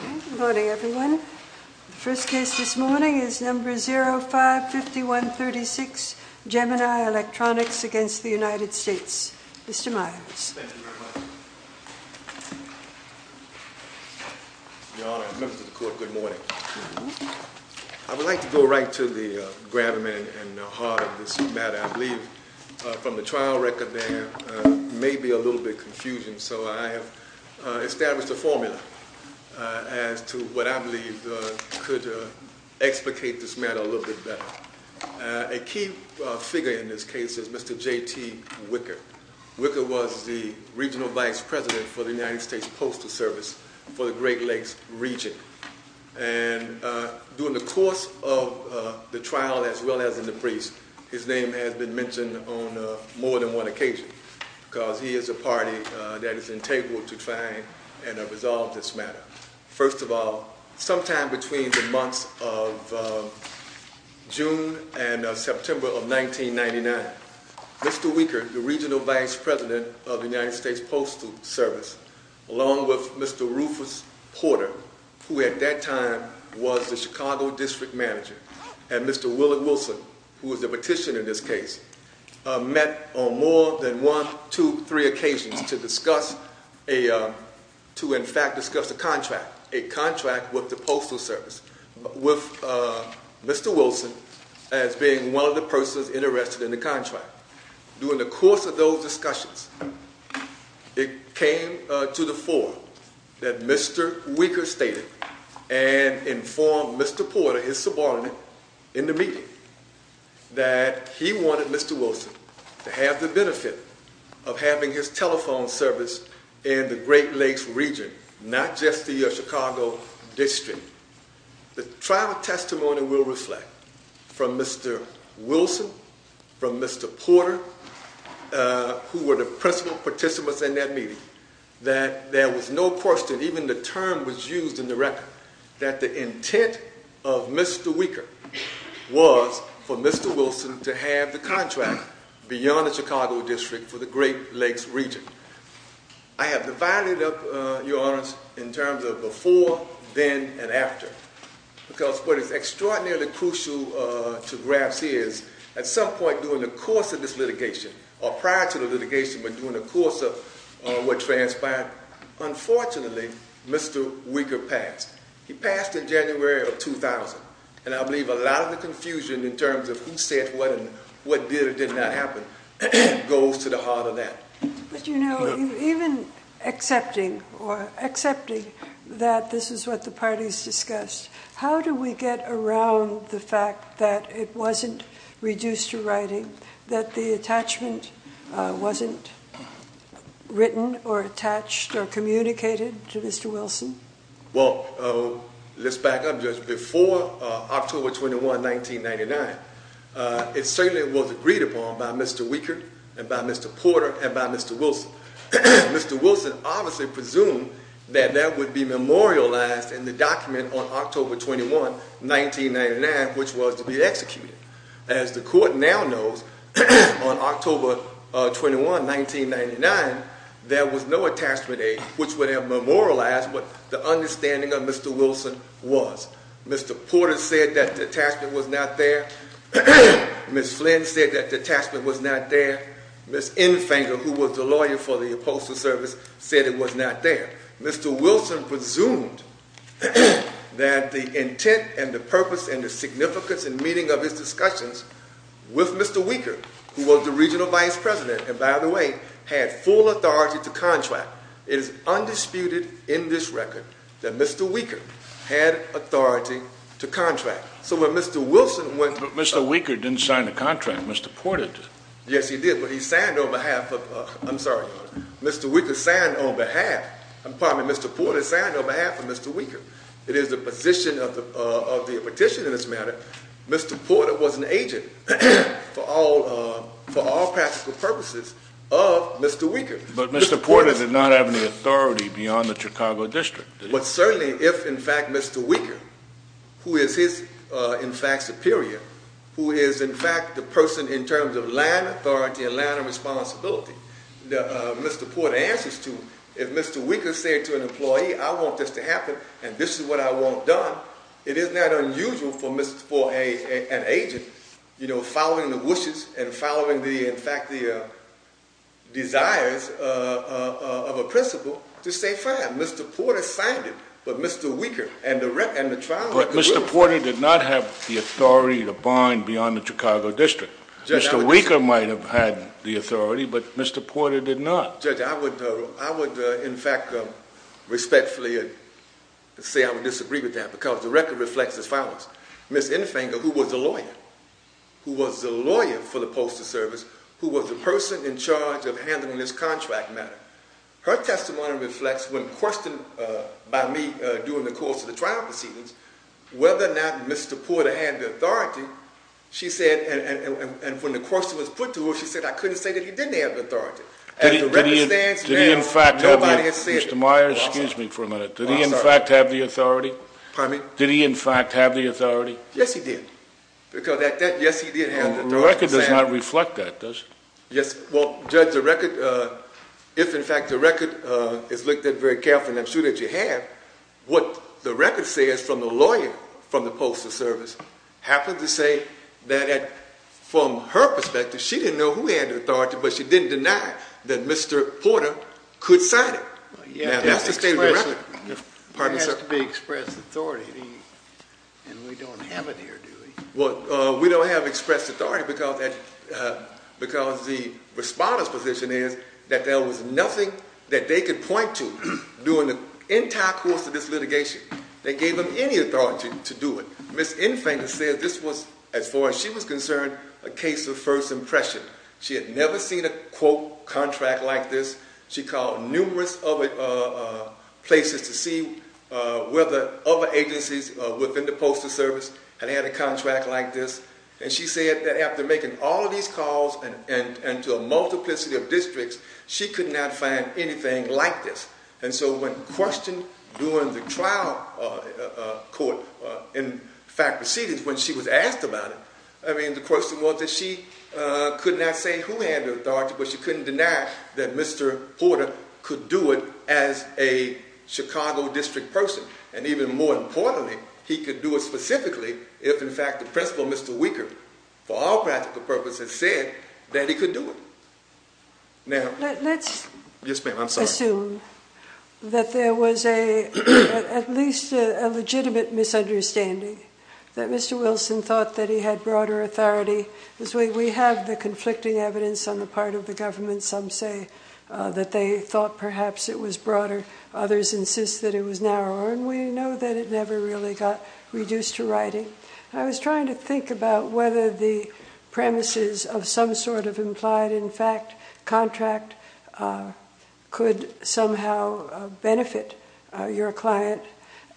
Good morning everyone. The first case this morning is number 055136, Gemini Electronics against the United States. Mr. Miles. Your Honor and members of the court, good morning. I would like to go right to the gravamen and heart of this matter. I believe from the trial record there may be a little bit confusion so I have established a formula as to what I believe could explicate this matter a little bit better. A key figure in this case is Mr. JT Wicker. Wicker was the regional vice president for the United States Postal Service for the Great Lakes region and during the course of the trial as well as in the briefs his name has been mentioned on more than one occasion because he is a party that is in table to try and resolve this matter. First of all sometime between the months of June and September of 1999 Mr. Wicker the regional vice president of the United States Postal Service along with Mr. Rufus Porter who at that time was the Chicago district manager and Mr. Wilson who was the petitioner in this case met on more than one, two, three occasions to discuss a, to in fact discuss a contract, a contract with the Postal Service with Mr. Wilson as being one of the persons interested in the contract. During the course of those discussions it came to the fore that Mr. Wicker stated and informed Mr. Porter, his subordinate, in the meeting that he wanted Mr. Wilson to have the benefit of having his telephone service in the Great Lakes region not just the Chicago district. The trial testimony will reflect from Mr. Wilson, from Mr. Porter who were the principal participants in that meeting, that there was no question even the term was used in the record that the intent of Mr. Wicker was for Mr. Wilson to have the contract beyond the Chicago district for the Great Lakes region. I have divided up, Your Honors, in terms of before, then, and after because what is extraordinarily crucial to grasp here is at some point during the course of this litigation or prior to litigation, but during the course of what transpired, unfortunately, Mr. Wicker passed. He passed in January of 2000 and I believe a lot of the confusion in terms of who said what and what did or did not happen goes to the heart of that. But you know, even accepting or accepting that this is what the parties discussed, how do we get around the fact that it wasn't reduced to writing, that the attachment wasn't written or attached or communicated to Mr. Wilson? Well, let's back up just before October 21, 1999, it certainly was agreed upon by Mr. Wicker and by Mr. Porter and by Mr. Wilson. Mr. Wilson obviously presumed that that would be memorialized in the document on October 21, 1999, which was to be executed. As the court now knows, on October 21, 1999, there was no attachment aid which would have memorialized what the understanding of Mr. Wilson was. Mr. Porter said that the attachment was not there. Ms. Flynn said that the attachment was not there. Ms. Infanger, who was the lawyer for the Postal Service, said it was not there. Mr. Wilson presumed that the intent and the significance and meaning of his discussions with Mr. Wicker, who was the regional vice president, and by the way, had full authority to contract. It is undisputed in this record that Mr. Wicker had authority to contract. So when Mr. Wilson went- But Mr. Wicker didn't sign the contract. Mr. Porter did. Yes, he did, but he signed on behalf of- I'm sorry, Mr. Wicker signed on behalf- I'm pardon me, Mr. Porter signed on behalf of Mr. Wicker. It is the position of the petition in this matter, Mr. Porter was an agent for all practical purposes of Mr. Wicker. But Mr. Porter did not have any authority beyond the Chicago District. But certainly if, in fact, Mr. Wicker, who is his, in fact, superior, who is, in fact, the person in terms of land authority and land of responsibility that Mr. Porter answers to, if Mr. Wicker said to an employee, I want this to happen and this is what I want done, it is not unusual for an agent, you know, following the wishes and following the, in fact, the desires of a principal to say fine, Mr. Porter signed it, but Mr. Wicker and the trial- But Mr. Porter did not have the authority to bind beyond the Chicago District. Mr. Wicker might have had the authority, but Mr. Porter did not. Judge, I would, in fact, respectfully say I would disagree with that because the record reflects as follows. Ms. Infanger, who was the lawyer, who was the lawyer for the postal service, who was the person in charge of handling this contract matter, her testimony reflects when questioned by me during the course of the trial proceedings, whether or not Mr. Porter had the authority, she said, and when the question was put to her, she said I couldn't say that he didn't have the authority. As the record stands- Did he, in fact- Nobody has said- Mr. Myers, excuse me for a minute. Did he, in fact, have the authority? Pardon me? Did he, in fact, have the authority? Yes, he did. Because at that, yes, he did have the authority to say- The record does not reflect that, does it? Yes, well, Judge, the record, if, in fact, the record is looked at very carefully, and I'm sure that you have, what the record says from the lawyer from the postal service happened to say that, from her testimony, that Mr. Porter could sign it. Yeah, that's the statement- It has to be expressed authority, and we don't have it here, do we? Well, we don't have expressed authority because that, because the respondent's position is that there was nothing that they could point to during the entire course of this litigation. They gave them any authority to do it. Ms. Infanger said this was, as far as she was concerned, a case of first impression. She had never seen a, quote, contract like this. She called numerous other places to see whether other agencies within the postal service had had a contract like this, and she said that after making all of these calls, and to a multiplicity of districts, she could not find anything like this. And so when questioned during the trial court, in fact, proceedings, when she was asked about it, I mean, the question was that she could not say who had the authority, but she couldn't deny that Mr. Porter could do it as a Chicago district person, and even more importantly, he could do it specifically if, in fact, the principal, Mr. Weicker, for all practical purposes, said that he could do it. Now- Let's assume that there was a, at least a legitimate misunderstanding, that Mr. Wilson thought that he had broader authority. We have the conflicting evidence on the part of the government. Some say that they thought perhaps it was broader. Others insist that it was narrower, and we know that it never really got reduced to writing. I was trying to think about whether the premises of some sort of implied, in fact, contract could somehow benefit your client,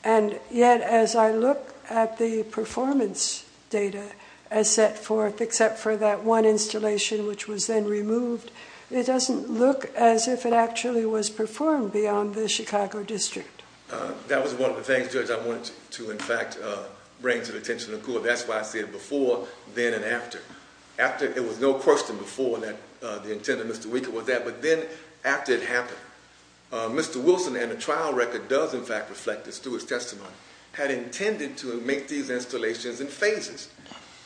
and yet, as I look at the performance data as set forth, except for that one installation, which was then removed, it doesn't look as if it actually was performed beyond the Chicago district. That was one of the things, Judge, I wanted to, in fact, bring to the attention of the court. That's why I said before, then, and after. After, it was no question before that the intent of Mr. Weicker was that, but then, after it happened, Mr. Wilson, and the trial record does, in fact, reflect this, through his installations, in phases,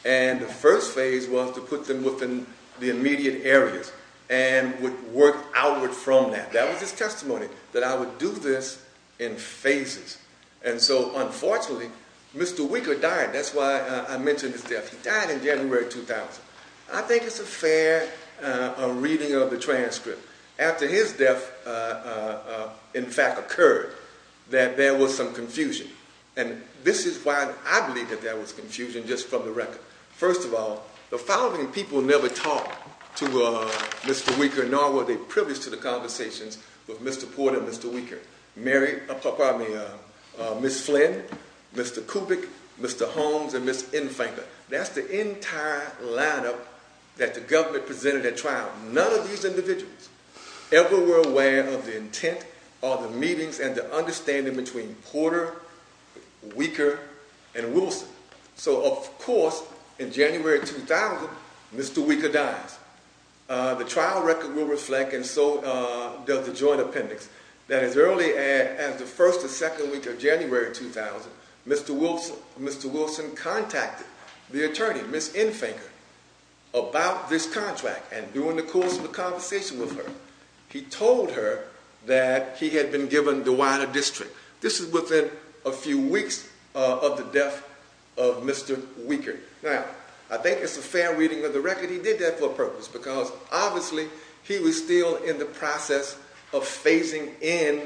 and the first phase was to put them within the immediate areas, and would work outward from that. That was his testimony, that I would do this in phases, and so, unfortunately, Mr. Weicker died. That's why I mentioned his death. He died in January 2000. I think it's a fair reading of the transcript. After his death, in fact, occurred, that there was some confusion, and this is why I believe that there was confusion, just from the record. First of all, the following people never talked to Mr. Weicker, nor were they privileged to the conversations with Mr. Porter and Mr. Weicker. Mary, pardon me, Ms. Flynn, Mr. Kubik, Mr. Holmes, and Ms. Infenker. That's the entire lineup that the government presented at trial. None of these individuals ever were aware of the intent, or the meetings, and the Porter, Weicker, and Wilson. So, of course, in January 2000, Mr. Weicker dies. The trial record will reflect, and so does the joint appendix, that as early as the first or second week of January 2000, Mr. Wilson contacted the attorney, Ms. Infenker, about this contract, and during the course of the conversation with her, he told her that he had been given the wider district. This is within a few weeks of the death of Mr. Weicker. Now, I think it's a fair reading of the record. He did that for a purpose, because, obviously, he was still in the process of phasing in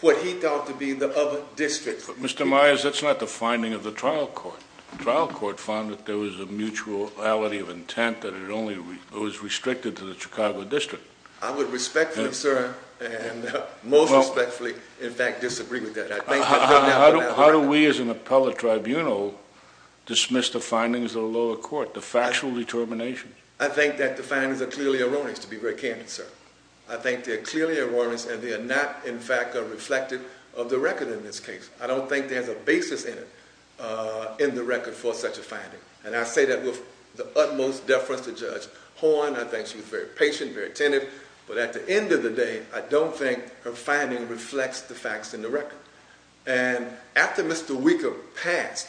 what he thought to be the other district. But, Mr. Myers, that's not the finding of the trial court. The trial court found that there was a mutuality of intent, that it only was restricted to the Chicago District. I would respectfully, sir, and most respectfully, in fact, disagree with that. How do we, as an appellate tribunal, dismiss the findings of the lower court, the factual determination? I think that the findings are clearly erroneous, to be very candid, sir. I think they're clearly erroneous, and they are not, in fact, reflective of the record in this case. I don't think there's a basis in it, in the record, for such a finding, and I say that with the utmost deference to Judge Horne. I think she was very patient, very attentive, but at the end of the day, I don't think her finding reflects the facts in the record. And, after Mr. Weicker passed,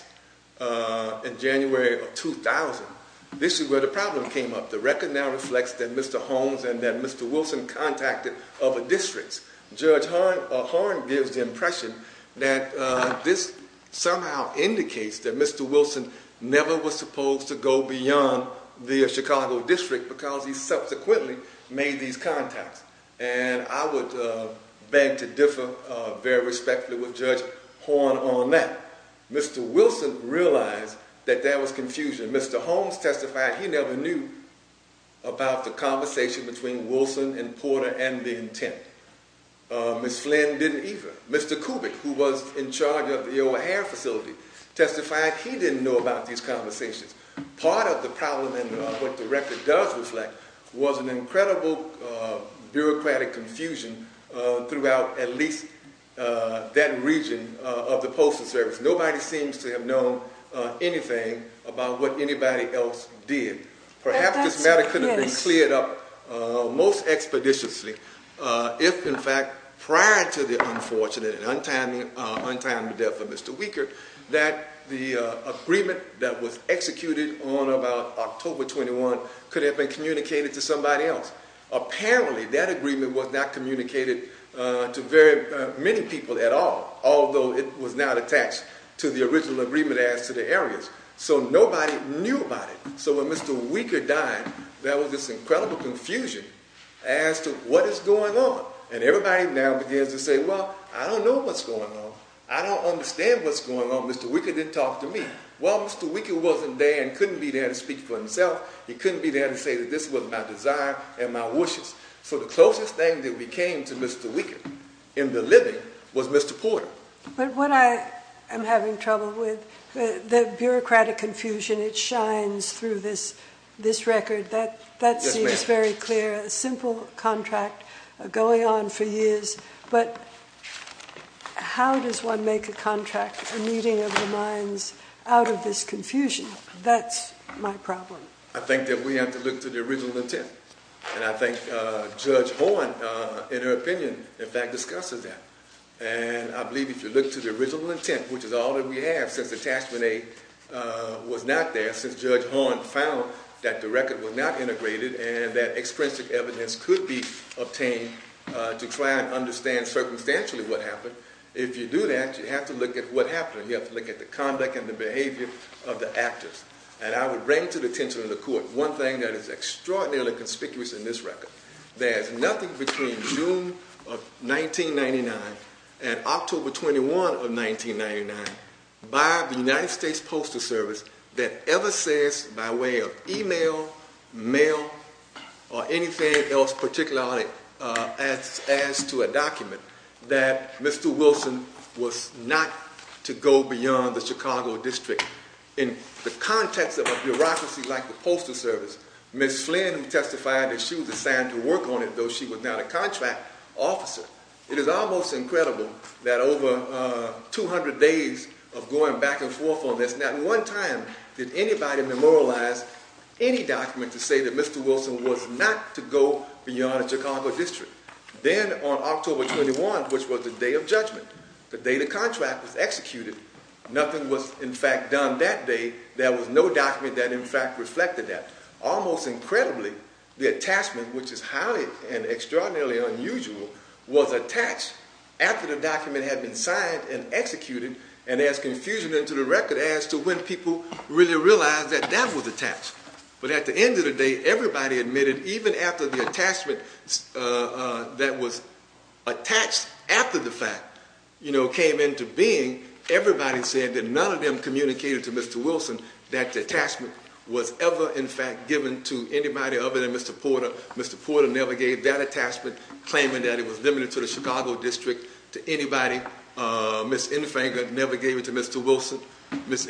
in January of 2000, this is where the problem came up. The record now reflects that Mr. Holmes and that Mr. Wilson contacted other districts. Judge Horne gives the impression that this somehow indicates that Mr. Wilson never was supposed to go beyond the Chicago district, because he subsequently made these contacts, and I would beg to differ, very respectfully, with Judge Horne on that. Mr. Wilson realized that there was confusion. Mr. Holmes testified he never knew about the conversation between Wilson and Porter and the intent. Ms. Flynn didn't either. Mr. Kubik, who was in charge of the record, did not know about these conversations. Part of the problem, and what the record does reflect, was an incredible bureaucratic confusion throughout, at least, that region of the Postal Service. Nobody seems to have known anything about what anybody else did. Perhaps this matter could have been cleared up most expeditiously, if, in fact, prior to the unfortunate and untimely death of Mr. Weicker, that the agreement that was executed on about October 21 could have been communicated to somebody else. Apparently, that agreement was not communicated to very many people at all, although it was not attached to the original agreement as to the areas. So nobody knew about it. So when Mr. Weicker died, there was this incredible confusion as to what is going on, and everybody now begins to say, well, I don't know what's going on. I don't understand what's going on. Mr. Weicker didn't talk to me. Well, Mr. Weicker wasn't there and couldn't be there to speak for himself. He couldn't be there to say that this was my desire and my wishes. So the closest thing that we came to Mr. Weicker in the living was Mr. Porter. But what I am having trouble with, the bureaucratic confusion, it shines through this record. That seems very clear. A simple contract going on for years. But how does one make a contract, a meeting of the minds, out of this confusion? That's my problem. I think that we have to look to the original intent. And I think Judge Horne, in her opinion, in fact, discusses that. And I believe if you look to the original intent, which is all that we have since attachment A was not there, since Judge Horne found that the record was not and understand circumstantially what happened. If you do that, you have to look at what happened. You have to look at the conduct and the behavior of the actors. And I would bring to the attention of the court one thing that is extraordinarily conspicuous in this record. There's nothing between June of 1999 and October 21 of 1999 by the United States Postal Service that ever says, by way of email, mail, or anything else particularly as to a document, that Mr. Wilson was not to go beyond the Chicago District. In the context of a bureaucracy like the Postal Service, Ms. Flynn testified that she was assigned to work on it, though she was not a contract officer. It is almost incredible that over 200 days of going back and forth on this, not one time did anybody memorialize any document to say that Mr. Wilson was not to go beyond the Chicago District. Then on October 21, which was the day of judgment, the day the contract was executed, nothing was in fact done that day. There was no document that in fact reflected that. Almost incredibly, the attachment, which is highly and signed and executed, and there's confusion into the record as to when people really realized that that was attached. But at the end of the day, everybody admitted, even after the attachment that was attached after the fact, you know, came into being, everybody said that none of them communicated to Mr. Wilson that the attachment was ever in fact given to anybody other than Mr. Porter. Mr. Porter never gave that attachment, claiming that it was limited to the Chicago District, to anybody. Ms. Infanger never gave it to Mr. Wilson. Ms.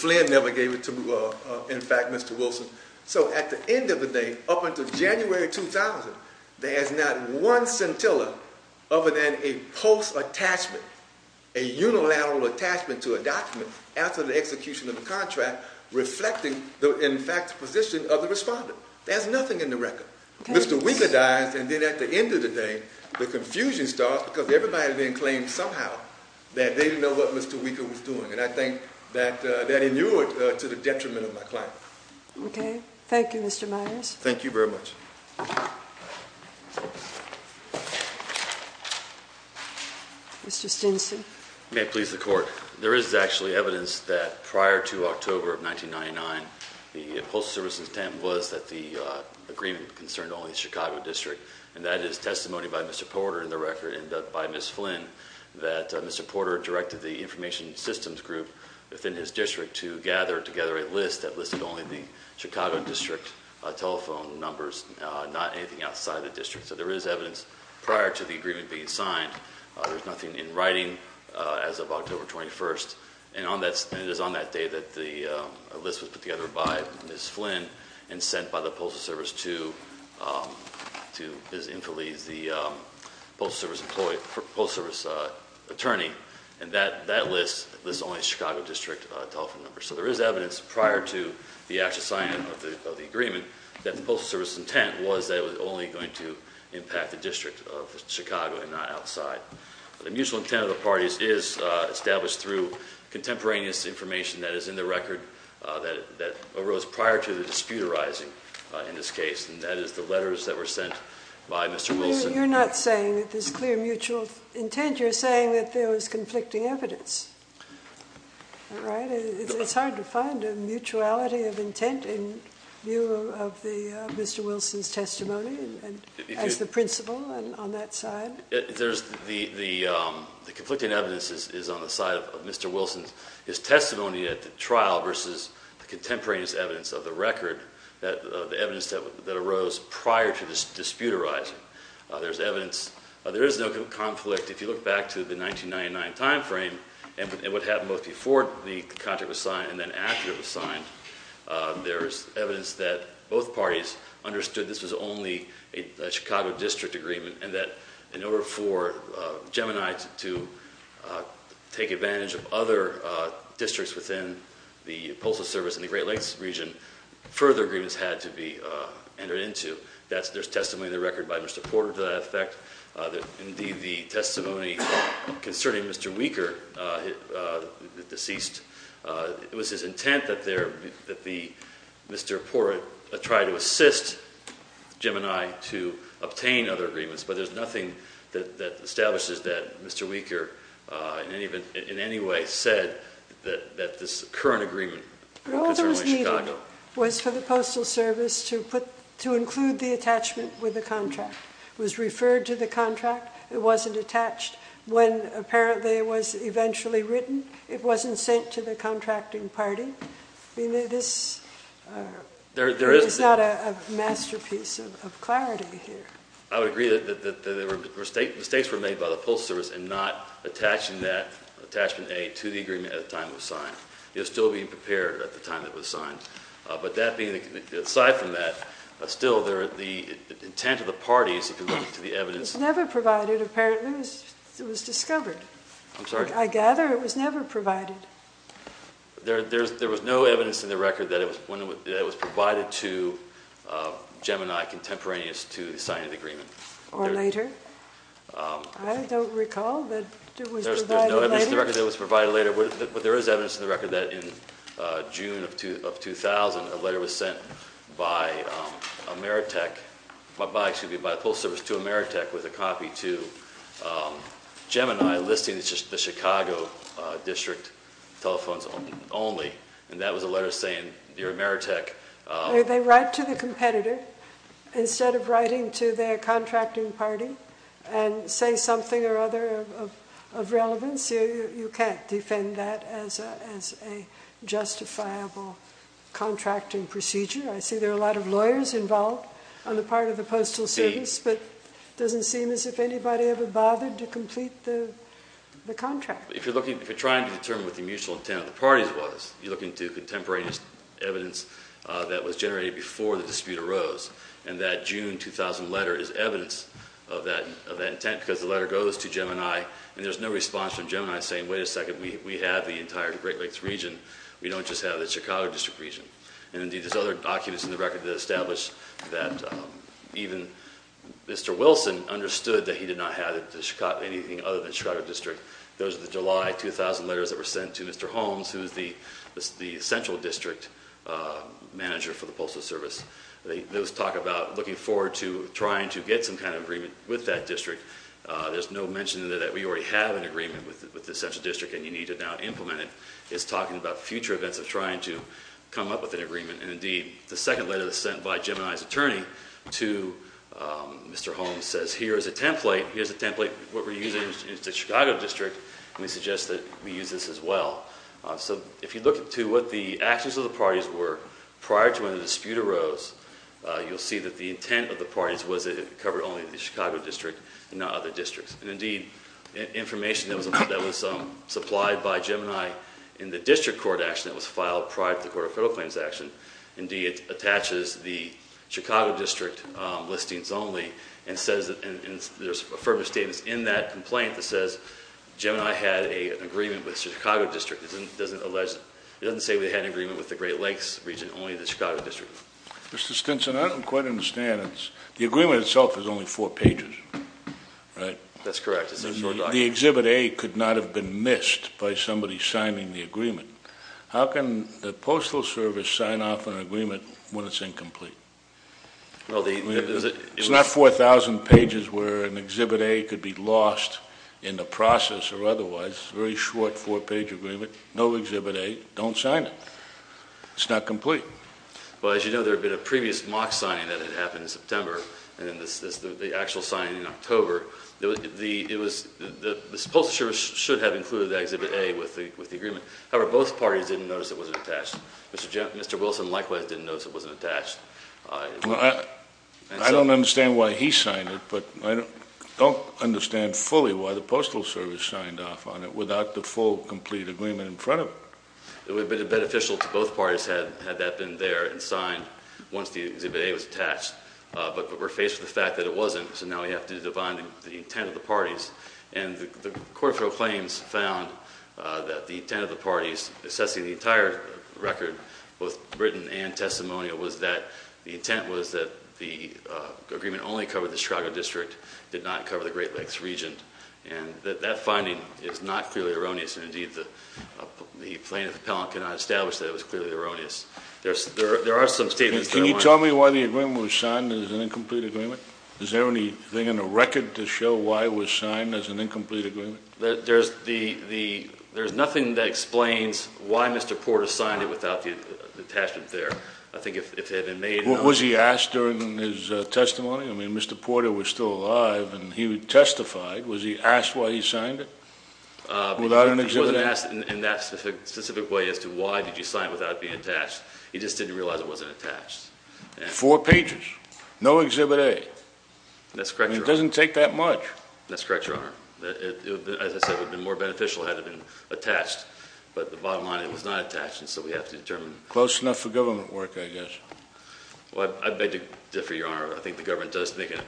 Flynn never gave it to, in fact, Mr. Wilson. So at the end of the day, up until January 2000, there is not one scintilla other than a post attachment, a unilateral attachment to a document after the execution of the contract reflecting the, in fact, position of the respondent. There's Mr. Weeker dies, and then at the end of the day, the confusion starts because everybody then claims somehow that they didn't know what Mr. Weeker was doing, and I think that that inured to the detriment of my client. Okay, thank you, Mr. Myers. Thank you very much. Mr. Stinson. May it please the Court. There is actually evidence that prior to October of 1999, the Postal Service's intent was that the agreement concerned only the Chicago District, and that is testimony by Mr. Porter in the record and by Ms. Flynn, that Mr. Porter directed the Information Systems Group within his district to gather together a list that listed only the Chicago District telephone numbers, not anything outside the district. So there is evidence prior to the agreement being signed. There's nothing in writing as of October 21st, and it is on that day that the agreement was signed by Ms. Flynn and sent by the Postal Service to Ms. Infeliz, the Postal Service employee, Postal Service attorney, and that list lists only the Chicago District telephone numbers. So there is evidence prior to the actual signing of the agreement that the Postal Service's intent was that it was only going to impact the District of Chicago and not outside. The mutual intent of the parties is established through contemporaneous information that is in the record that arose prior to the dispute arising in this case, and that is the letters that were sent by Mr. Wilson. You're not saying that there's clear mutual intent, you're saying that there was conflicting evidence, right? It's hard to find a mutuality of intent in view of Mr. Wilson's testimony as the principal on that side. The conflicting evidence is on the side of Mr. Wilson's testimony at the trial versus the contemporaneous evidence of the record, the evidence that arose prior to this dispute arising. There is no conflict. If you look back to the 1999 time frame, and what happened both before the contract was signed and then after it was signed, there is evidence that both parties understood this was only a Chicago District agreement and that in order for Gemini to take advantage of other districts within the Postal Service in the Great Lakes region, further agreements had to be entered into. There's testimony in the record by Mr. Porter to that effect. Indeed, the testimony concerning Mr. Weeker, the deceased, it was his intent that Mr. Porter try to assist Gemini to obtain other agreements, but there's nothing that establishes that Mr. Weeker said that this current agreement was for the Postal Service to include the attachment with the contract. It was referred to the contract. It wasn't attached. When apparently it was eventually written, it wasn't sent to the contracting party. This is not a masterpiece of clarity here. I would agree that mistakes were made by the Postal Service in not attaching that attachment A to the agreement at the time it was signed. It was still being prepared at the time it was signed. But aside from that, still, the intent of the parties, if you look to the evidence... It was never provided, apparently. It was discovered. I gather it was never provided. There was no evidence in the record that it was provided to Gemini contemporaneous to the signing of the agreement. Or later. I don't recall that it was provided later. But there is evidence in the record that in June of 2000, a letter was sent by the Postal Service to Ameritech with a copy to Gemini listing the Chicago district telephones only. And that was a letter saying, Dear Ameritech... Did they write to the competitor instead of writing to their of relevance? You can't defend that as a justifiable contracting procedure. I see there are a lot of lawyers involved on the part of the Postal Service, but it doesn't seem as if anybody ever bothered to complete the contract. If you're looking, if you're trying to determine what the mutual intent of the parties was, you're looking to contemporaneous evidence that was generated before the dispute arose. And that June 2000 letter is evidence of that intent because the letter goes to Gemini and there's no response from Gemini saying, wait a second, we have the entire Great Lakes region. We don't just have the Chicago district region. And indeed there's other documents in the record that establish that even Mr. Wilson understood that he did not have anything other than Chicago district. Those are the July 2000 letters that were sent to Mr. Holmes, who's the central district manager for the Postal Service. They talk about looking forward to trying to get some agreement with that district. There's no mention that we already have an agreement with the central district and you need to now implement it. It's talking about future events of trying to come up with an agreement. And indeed the second letter that was sent by Gemini's attorney to Mr. Holmes says here is a template. Here's a template. What we're using is the Chicago district and we suggest that we use this as well. So if you look into what the actions of the parties were prior to when the dispute arose, you'll see that the intent of the Chicago district and not other districts and indeed information that was supplied by Gemini in the district court action that was filed prior to the Court of Federal Claims action. Indeed, it attaches the Chicago district listings only and says that there's affirmative statements in that complaint that says Gemini had an agreement with Chicago district. It doesn't allege, it doesn't say we had an agreement with the Great Lakes region, only the Chicago district. Mr. Stinson, I don't quite understand. It's the four pages, right? That's correct. The Exhibit A could not have been missed by somebody signing the agreement. How can the Postal Service sign off an agreement when it's incomplete? Well, it's not 4,000 pages where an Exhibit A could be lost in the process or otherwise. Very short four page agreement. No Exhibit A. Don't sign it. It's not complete. Well, as you know, there have been a previous mock signing that had happened in September. And this is the actual signing in October. The Postal Service should have included that Exhibit A with the agreement. However, both parties didn't notice it wasn't attached. Mr. Wilson likewise didn't notice it wasn't attached. I don't understand why he signed it, but I don't understand fully why the Postal Service signed off on it without the full, complete agreement in front of it. It would have been beneficial to both parties had that been there and signed once the Exhibit A was attached. But we're faced with the fact that it wasn't. So now we have to define the intent of the parties. And the Court of Proclaims found that the intent of the parties assessing the entire record, both written and testimonial, was that the intent was that the agreement only covered the Chicago District, did not cover the Great Lakes region. And that that finding is not clearly erroneous. And indeed, the plaintiff appellant cannot establish that it was clearly erroneous. There are some statements. Can you tell me why the agreement was signed as an incomplete agreement? Is there anything in the record to show why it was signed as an incomplete agreement? There's nothing that explains why Mr. Porter signed it without the attachment there. I think if it had been made, was he asked during his testimony? I mean, Mr. Porter was still alive and he testified. Was he asked why he signed it? Uh, without an exhibit in that specific way as to why did you sign without being attached? He just didn't realize it wasn't attached. Four pages. No exhibit. A That's correct. It doesn't take that much. That's correct, Your Honor. As I said, would be more beneficial had it been attached. But the bottom line, it was not attached. And so we have to determine close enough for government work, I guess. Well, I beg to differ, Your Honor. I think the government does make an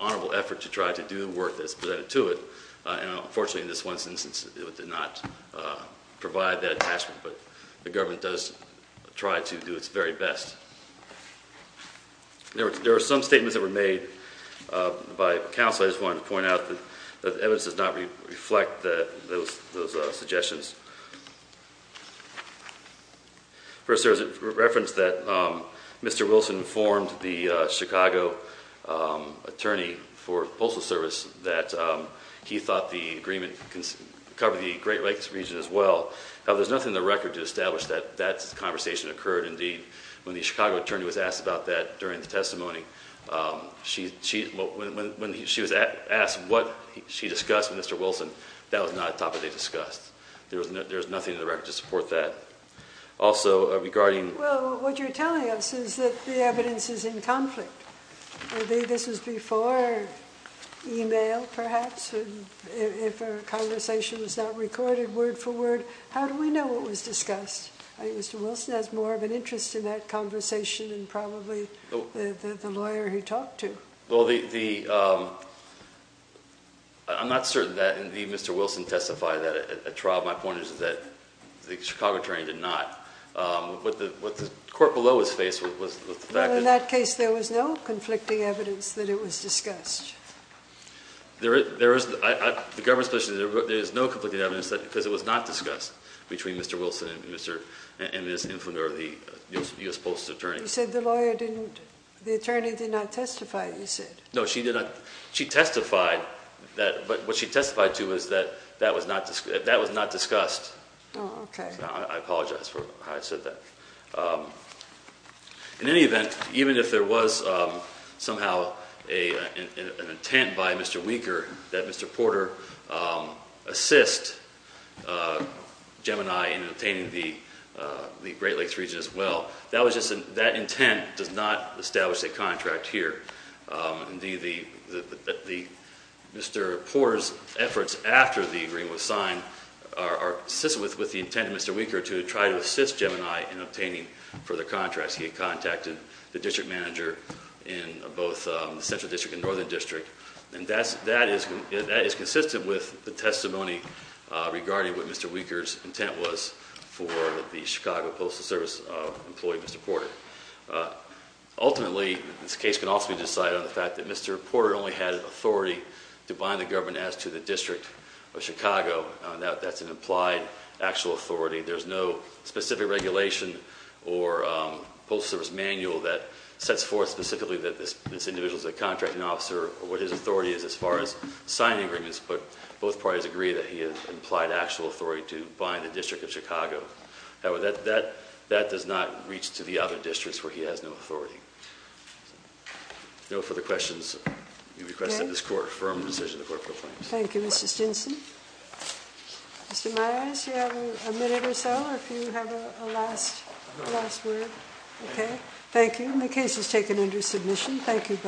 honorable effort to try to do the work that's presented to it. And unfortunately, this one since it did not provide that attachment, but the government does try to do its very best. There were some statements that were made by counsel. I just wanted to point out that evidence does not reflect that those suggestions first. There's a reference that Mr Wilson formed the Chicago attorney for the Great Lakes region as well. There's nothing in the record to establish that that conversation occurred. Indeed, when the Chicago attorney was asked about that during the testimony, um, she when she was asked what she discussed Mr Wilson, that was not top of the discussed. There's nothing in the record to support that. Also regarding what you're telling us is that the evidence is in conflict. This is before email, perhaps if a conversation was not recorded word for word. How do we know it was discussed? Mr Wilson has more of an interest in that conversation and probably the lawyer he talked to. Well, the I'm not certain that the Mr Wilson testified that a trial. My point is that the Chicago train did not. Um, what the court below his face was the fact in that case, there was no conflicting evidence that it was discussed. Yeah. There is. There is the government's position. There is no complete evidence that because it was not discussed between Mr Wilson and Mr and this infant or the U. S. Post attorney said the lawyer didn't. The attorney did not testify. You said no, she did not. She testified that. But what she testified to is that that was not that was not discussed. Okay, I apologize for how I said that. Um, an intent by Mr Weaker that Mr Porter, um, assist Gemini in obtaining the Great Lakes region as well. That was just that intent does not establish a contract here. Um, the Mr Porter's efforts after the agreement was signed are assisted with the intent of Mr Weaker to try to assist Gemini in obtaining for the contracts. He contacted the district manager in both the central district and northern district. And that's that is that is consistent with the testimony regarding what Mr Weaker's intent was for the Chicago Postal Service employee. Mr Porter. Uh, ultimately, this case can also be decided on the fact that Mr Porter only had authority to bind the government as to the district of Chicago. That's an implied actual authority. There's no specific regulation or postal service manual that sets forth specifically that this this individual is a contracting officer or what his authority is as far as signing agreements. But both parties agree that he has implied actual authority to bind the district of Chicago. However, that that that does not reach to the other districts where he has no authority. No further questions. You requested this court firm decision. Thank you, Mr Stinson. Mr Myers, you have a minute or so. If you have a last last word. Okay, thank you. The case is taken under submission. Thank you.